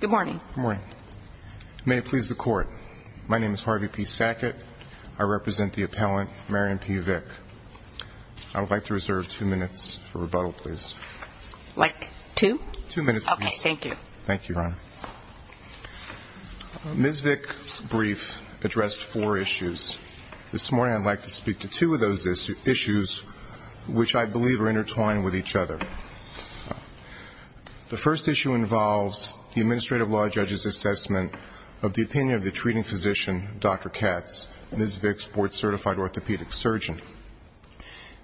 Good morning. May it please the court. My name is Harvey P. Sackett. I represent the appellant, Marion P. Vick. I would like to reserve two minutes for rebuttal, please. Like two? Two minutes, please. Okay, thank you. Thank you, Ron. Ms. Vick's brief addressed four issues. This morning I'd like to speak to two of those issues, which I believe are intertwined with each other. The first issue involves the Administrative Law Judge's assessment of the opinion of the treating physician, Dr. Katz, Ms. Vick's board-certified orthopedic surgeon.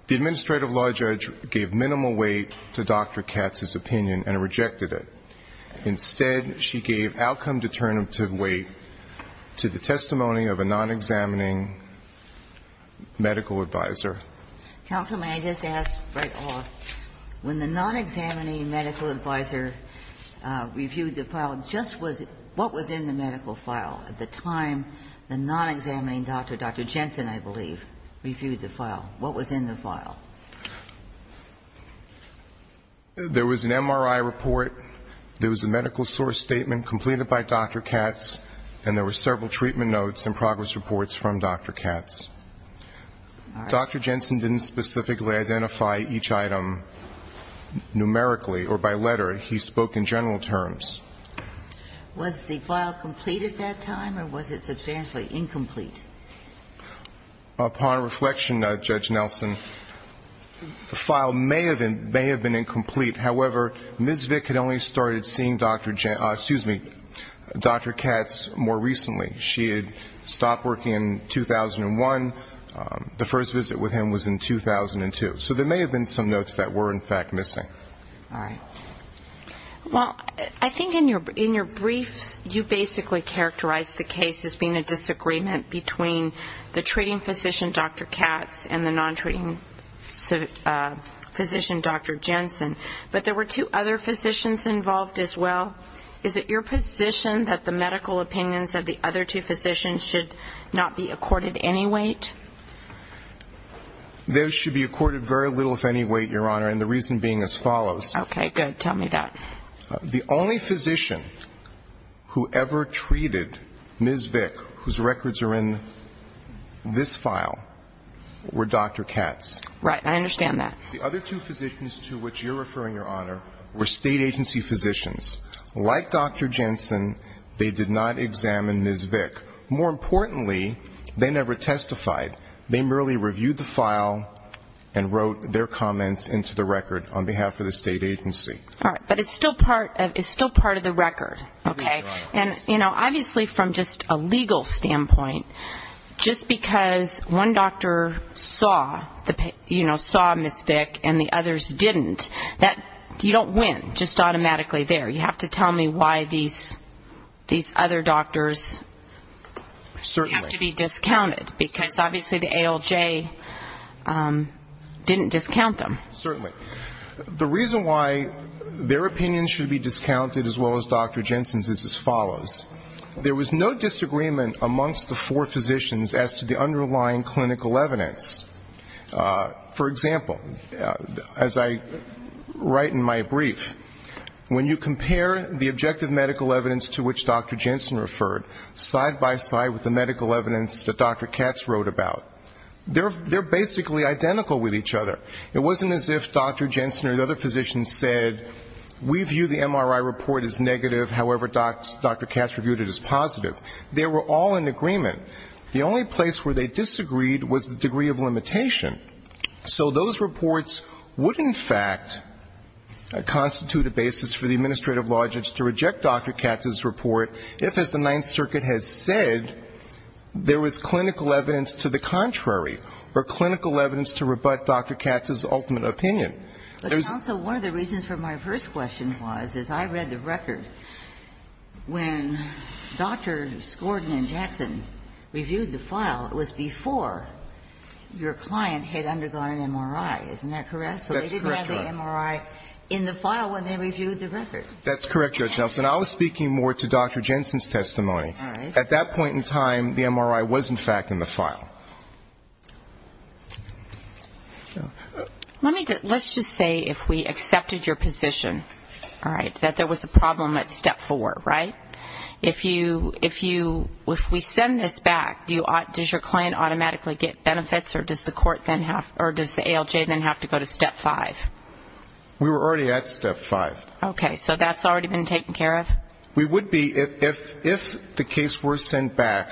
The Administrative Law Judge gave minimal weight to Dr. Katz's opinion and rejected it. Instead, she gave outcome-determinative weight to the testimony of a non-examining medical advisor. Counsel, may I just ask right off, when the non-examining medical advisor reviewed the file, just what was in the medical file at the time the non-examining doctor, Dr. Jensen, I believe, reviewed the file? What was in the file? There was an MRI report, there was a medical source statement completed by Dr. Katz, and there were several treatment notes and progress reports from Dr. Katz. Dr. Jensen didn't specifically identify each item numerically or by letter. He spoke in general terms. Was the file complete at that time, or was it substantially incomplete? Upon reflection, Judge Nelson, the file may have been incomplete. However, Ms. Vick had only started seeing Dr. Katz more recently. She had stopped working in 2001. The first visit with him was in 2002. So there may have been some notes that were, in fact, missing. All right. Well, I think in your briefs, you basically characterized the case as being a disagreement between the treating physician, Dr. Katz, and the non-treating physician, Dr. Jensen. But there were two other physicians involved as well. Is it your position that the medical opinions of the other two physicians should not be accorded any weight? Those should be accorded very little, if any, weight, Your Honor, and the reason being as follows. Okay, good. Tell me that. The only physician who ever treated Ms. Vick, whose records are in this file, were Dr. Katz. Right. I understand that. The other two physicians to which you're referring, Your Honor, were State Agency physicians. Like Dr. Jensen, they did not examine Ms. Vick. More importantly, they never testified. They merely reviewed the file and wrote their comments into the record on behalf of the State Agency. All right, but it's still part of the record, okay? And, you know, obviously from just a legal standpoint, just because one doctor saw Ms. Vick and the others didn't, you don't win just automatically there. You have to tell me why these other doctors have to be discounted, because obviously the ALJ didn't discount them. Certainly. The reason why their opinions should be discounted as well as Dr. Jensen's is as follows. There was no disagreement amongst the four physicians as to the underlying clinical evidence. For example, as I write in my brief, when you compare the objective medical evidence to which Dr. Jensen referred, side by side with the medical evidence that Dr. Katz wrote about, they're basically identical with each other. It wasn't as if Dr. Jensen or the other physicians said, we view the MRI report as negative, however Dr. Katz reviewed it as positive. They were all in agreement. The only place where they disagreed was the degree of limitation. So those reports would in fact constitute a basis for the administrative law judge to reject Dr. Katz's report if, as the Ninth Circuit has said, there was clinical evidence to the contrary or clinical evidence to rebut Dr. Katz's ultimate opinion. But counsel, one of the reasons for my first question was, as I read the record, when Dr. Skorden and Jackson reviewed the file, it was before your client had undergone an MRI. Isn't that correct? That's correct, Your Honor. So they didn't have the MRI in the file when they reviewed the record. That's correct, Judge Nelson. I was speaking more to Dr. Jensen's testimony. All right. At that point in time, the MRI was in fact in the file. Let's just say if we accepted your position, all right, that there was a problem at Step 4, right? If we send this back, does your client automatically get benefits or does the ALJ then have to go to Step 5? We were already at Step 5. Okay. So that's already been taken care of? We would be, if the case were sent back,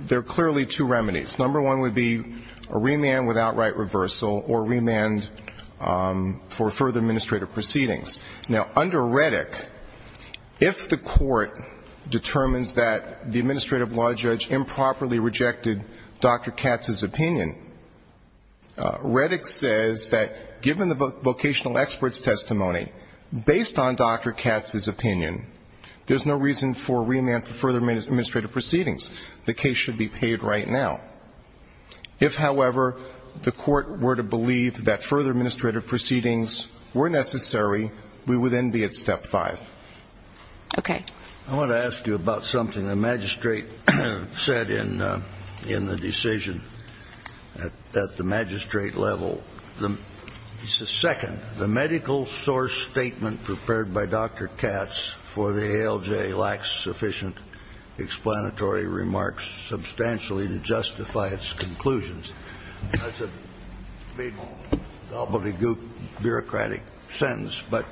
there are clearly two remedies. Number one would be a remand without right reversal or remand for further administrative proceedings. Now, under Reddick, if the court determines that the administrative law judge improperly rejected Dr. Katz's opinion, Reddick says that given the vocational expert's testimony, based on Dr. Katz's opinion, there's no reason for remand for further administrative proceedings. The case should be paid right now. If, however, the court were to believe that further administrative proceedings were necessary, we would then be at Step 5. Okay. I want to ask you about something the magistrate said in the decision at the magistrate level. He says, second, the medical source statement prepared by Dr. Katz for the ALJ lacks sufficient explanatory remarks substantially to justify its conclusions. That's a big, gobbledygook, bureaucratic sentence. But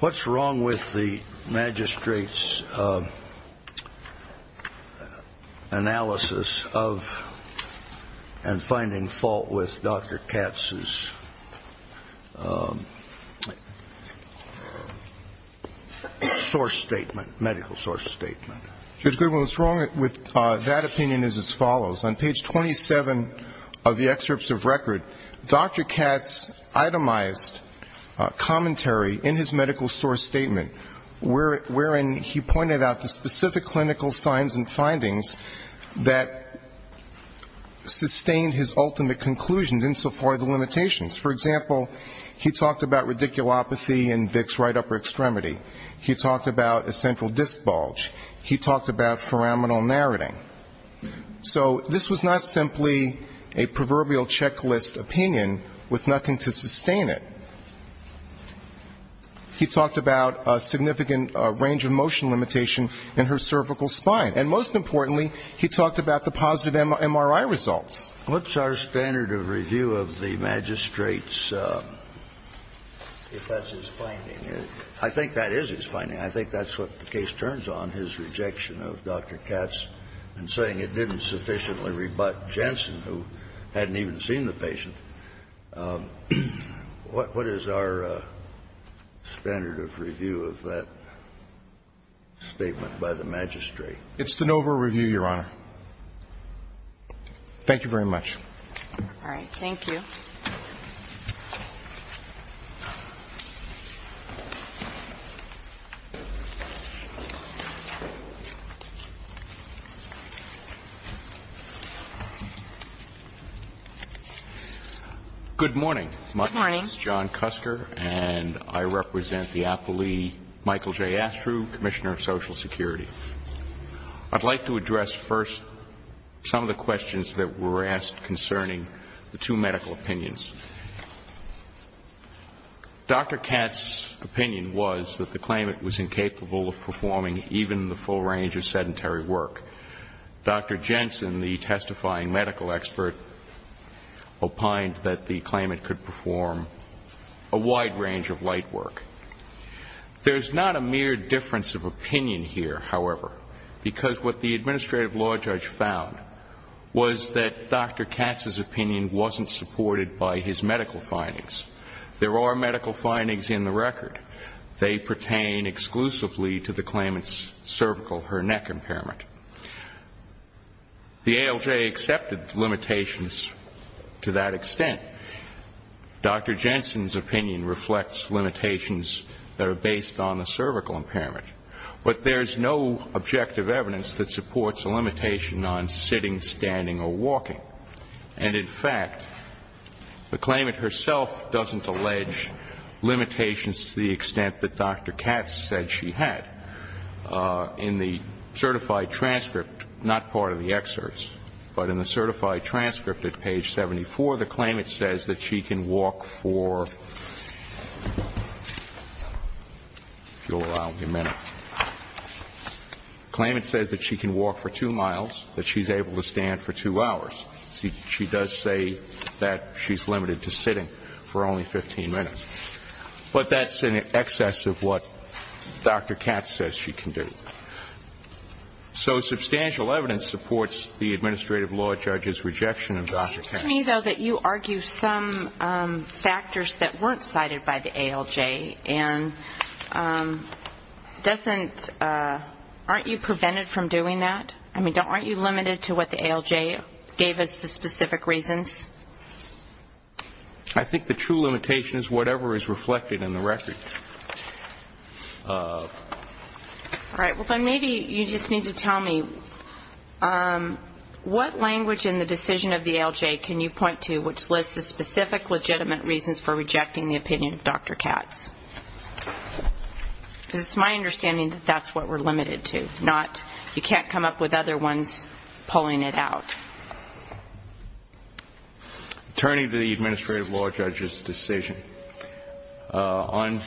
what's wrong with the magistrate's analysis of and finding fault with Dr. Katz's source statement, medical source statement? Judge Goodwin, what's wrong with that opinion is as follows. On page 27 of the excerpts of record, Dr. Katz itemized commentary in his medical source statement wherein he pointed out the specific clinical signs and findings that sustained his ultimate conclusions insofar as the limitations. For example, he talked about radiculopathy in Dick's right upper extremity. He talked about a central disc bulge. He talked about foraminal narrating. So this was not simply a proverbial checklist opinion with nothing to sustain it. He talked about a significant range of motion limitation in her cervical spine. And most importantly, he talked about the positive MRI results. What's our standard of review of the magistrate's, if that's his finding? I think that is his finding. I think that's what the case turns on, his rejection of Dr. Katz and saying it didn't sufficiently rebut Jensen, who hadn't even seen the patient. What is our standard of review of that statement by the magistrate? It's the NOVA review, Your Honor. Thank you very much. All right. Thank you. Thank you. Good morning. Good morning. My name is John Kusker, and I represent the appellee, Michael J. Astrew, Commissioner of Social Security. I'd like to address first some of the questions that were asked concerning the two medical opinions. Dr. Katz's opinion was that the claimant was incapable of performing even the full range of sedentary work. Dr. Jensen, the testifying medical expert, opined that the claimant could perform a wide range of light work. There's not a mere difference of opinion here, however, because what the medical findings. There are medical findings in the record. They pertain exclusively to the claimant's cervical, her neck impairment. The ALJ accepted limitations to that extent. Dr. Jensen's opinion reflects limitations that are based on the cervical impairment. But there's no objective evidence that supports a limitation on sitting, standing, or walking. And, in fact, the claimant herself doesn't allege limitations to the extent that Dr. Katz said she had. In the certified transcript, not part of the excerpts, but in the certified transcript at page 74, the claimant says that she can walk for, if you'll allow me a minute. The claimant says that she can walk for two miles, that she's able to stand for two hours. She does say that she's limited to sitting for only 15 minutes. But that's in excess of what Dr. Katz says she can do. So substantial evidence supports the administrative law judge's rejection of Dr. Katz. It seems to me, though, that you argue some factors that weren't cited by the ALJ and doesn't aren't you prevented from doing that? I mean, aren't you limited to what the ALJ gave as the specific reasons? I think the true limitation is whatever is reflected in the record. All right. Well, then maybe you just need to tell me what language in the decision of the ALJ can you point to which lists the specific legitimate reasons for rejecting the opinion of Dr. Katz? Because it's my understanding that that's what we're limited to, not you can't come up with other ones pulling it out. Turning to the administrative law judge's decision, on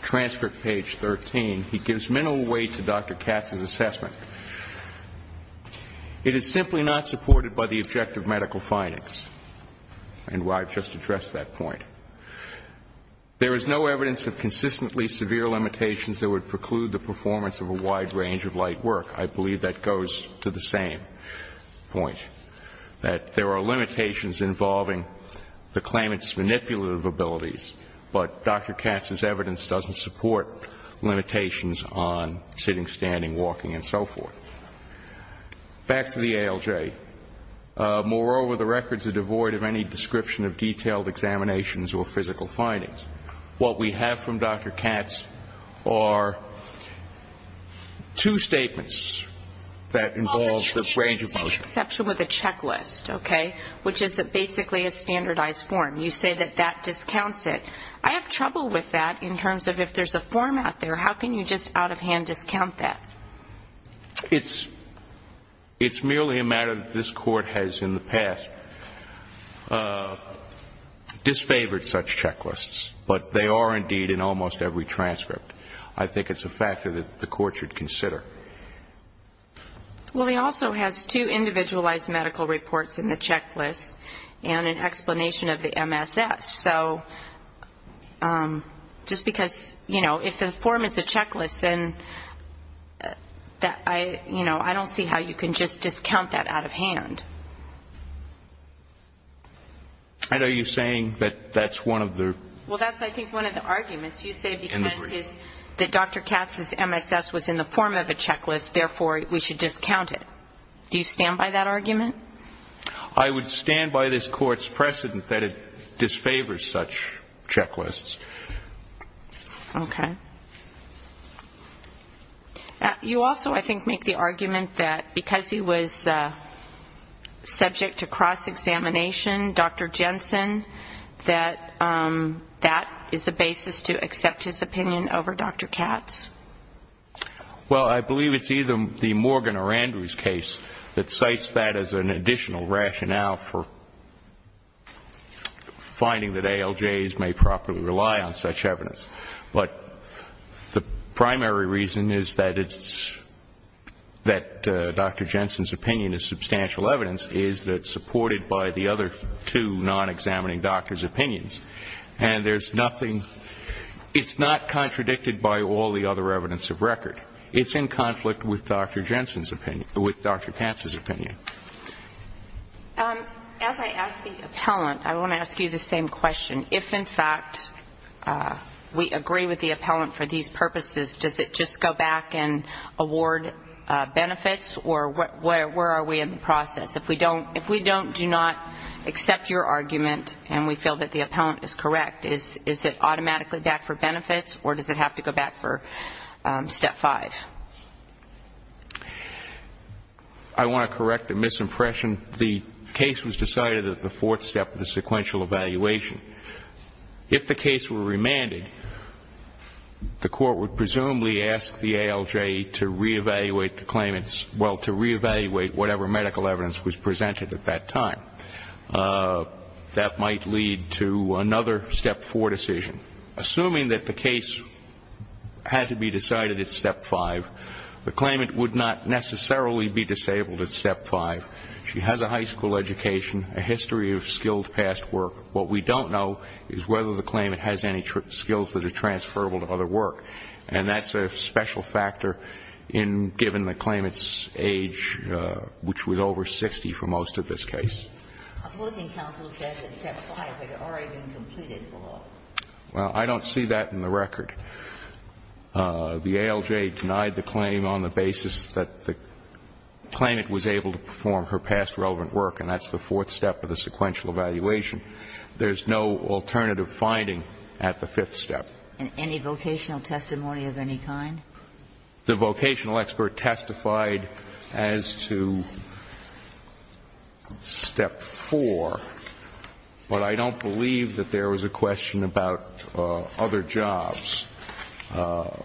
transcript page 13, he gives minimal weight to Dr. Katz's assessment. It is simply not supported by the objective medical findings, and I've just addressed that point. There is no evidence of consistently severe limitations that would preclude the same point, that there are limitations involving the claimant's manipulative abilities, but Dr. Katz's evidence doesn't support limitations on sitting, standing, walking, and so forth. Back to the ALJ. Moreover, the records are devoid of any description of detailed examinations or physical findings. What we have from Dr. Katz are two statements that involve the range of motion. Take exception with a checklist, okay, which is basically a standardized form. You say that that discounts it. I have trouble with that in terms of if there's a form out there, how can you just out of hand discount that? It's merely a matter that this Court has in the past disfavored such checklists, but they are indeed in almost every transcript. I think it's a factor that the Court should consider. Well, he also has two individualized medical reports in the checklist and an explanation of the MSS. So just because, you know, if the form is a checklist, then, you know, I don't see how you can just discount that out of hand. And are you saying that that's one of the? Well, that's, I think, one of the arguments. You say because Dr. Katz's MSS was in the form of a checklist, therefore we should discount it. Do you stand by that argument? I would stand by this Court's precedent that it disfavors such checklists. Okay. You also, I think, make the argument that because he was subject to cross examination, Dr. Jensen, that that is a basis to accept his opinion over Dr. Katz. Well, I believe it's either the Morgan or Andrews case that cites that as an additional rationale for finding that ALJs may properly rely on such evidence. But the primary reason is that it's, that Dr. Jensen's opinion is substantial evidence is that it's supported by the other two non-examining doctors' opinions. And there's nothing, it's not contradicted by all the other evidence of record. It's in conflict with Dr. Jensen's opinion, with Dr. Katz's opinion. As I ask the appellant, I want to ask you the same question. If, in fact, we agree with the appellant for these purposes, does it just go back and award benefits? Or where are we in the process? If we don't, if we don't, do not accept your argument and we feel that the appellant is correct, is it automatically back for benefits? Or does it have to go back for step five? I want to correct a misimpression. The case was decided at the fourth step of the sequential evaluation. If the case were remanded, the court would presumably ask the ALJ to re-evaluate whatever medical evidence was presented at that time. That might lead to another step four decision. Assuming that the case had to be decided at step five, the claimant would not necessarily be disabled at step five. She has a high school education, a history of skilled past work. What we don't know is whether the claimant has any skills that are transferable to other work. And that's a special factor given the claimant's age, which was over 60 for most of this case. Opposing counsel said that step five had already been completed. Well, I don't see that in the record. The ALJ denied the claim on the basis that the claimant was able to perform her past relevant work. And that's the fourth step of the sequential evaluation. There's no alternative finding at the fifth step. And any vocational testimony of any kind? The vocational expert testified as to step four. But I don't believe that there was a question about other jobs. Now,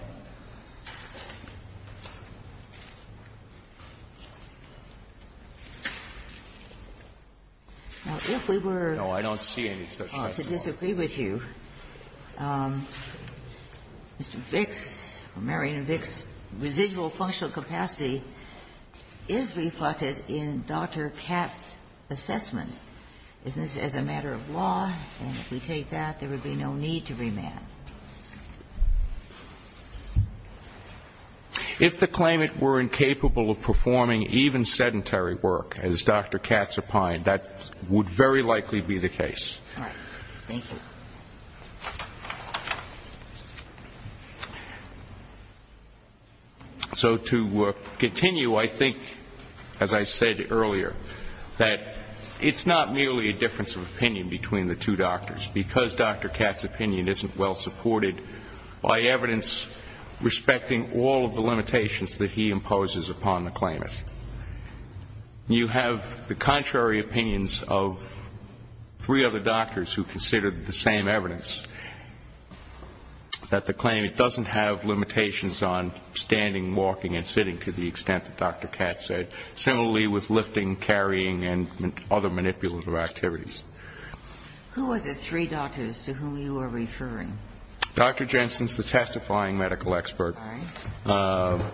if we were to disagree with you, I would say that the ALJ did not provide Mr. Vicks, Marion Vicks' residual functional capacity is reflected in Dr. Katz's assessment. Is this as a matter of law? And if we take that, there would be no need to remand. If the claimant were incapable of performing even sedentary work, as Dr. Katz opined, that would very likely be the case. All right. Thank you. So to continue, I think, as I said earlier, that it's not merely a difference of opinion between the two doctors, because Dr. Katz's opinion isn't well supported by evidence respecting all of the limitations that he imposes upon the claimant. You have the contrary opinions of three other doctors who considered the same evidence, that the claimant doesn't have limitations on standing, walking and sitting to the extent that Dr. Katz said, similarly with lifting, carrying and other manipulative activities. Who are the three doctors to whom you are referring? Dr. Jensen is the testifying medical expert. All right.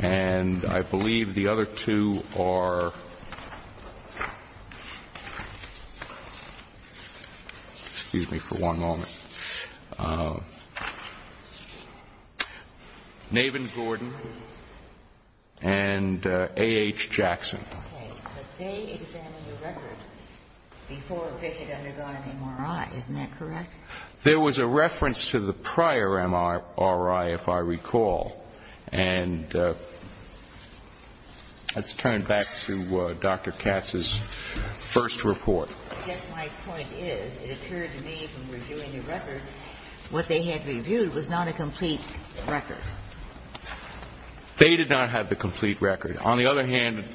And I believe the other two are, excuse me for one moment, Navin Gordon and A.H. Jackson. Okay. But they examined your record before Vic had undergone an MRI. Isn't that correct? There was a reference to the prior MRI, if I recall. And let's turn back to Dr. Katz's first report. I guess my point is, it occurred to me from reviewing the record, what they had reviewed was not a complete record. They did not have the complete record. On the other hand,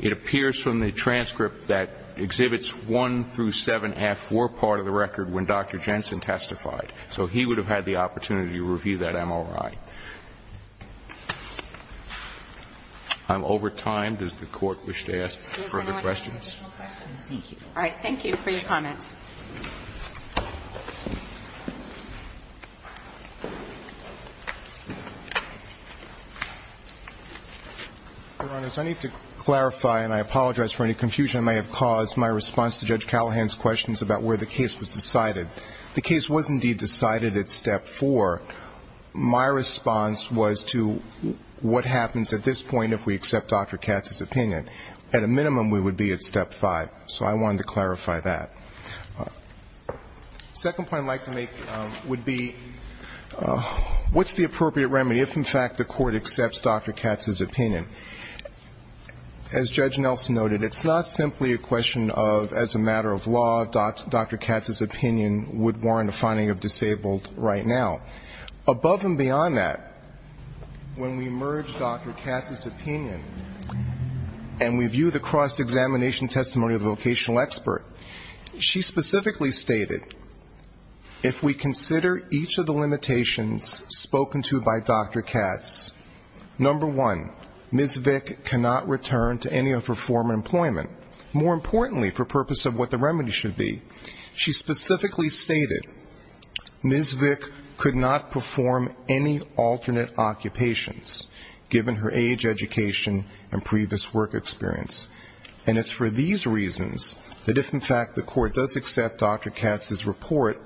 it appears from the transcript that exhibits one through seven and a half were part of the record when Dr. Jensen testified. So he would have had the opportunity to review that MRI. I'm over time. Does the Court wish to ask further questions? All right. Thank you for your comments. Your Honors, I need to clarify, and I apologize for any confusion that may have caused my response to Judge Callahan's questions about where the case was decided. The case was indeed decided at Step 4. My response was to what happens at this point if we accept Dr. Katz's opinion. At a minimum, we would be at Step 5. So I wanted to clarify that. The second point I'd like to make would be, what's the appropriate remedy if, in fact, the Court accepts Dr. Katz's opinion? As Judge Nelson noted, it's not simply a question of, as a matter of law, Dr. Katz's opinion would warrant a finding of disabled right now. Above and beyond that, when we merge Dr. Katz's opinion and we view the cross-examination testimony of the vocational expert, she specifically stated, if we consider each of the limitations spoken to by Dr. Katz, number one, Ms. Vick cannot return to any of her former employment. More importantly, for purpose of what the remedy should be, she specifically stated, Ms. Vick could not perform any alternate occupations, given her age, education, and previous work experience. And it's for these reasons that, if, in fact, the Court does accept Dr. Katz's report,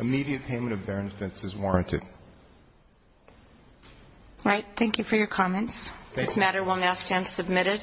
immediate payment of the compensation would be appropriate. All right. Thank you for your comments. This matter will now stand submitted.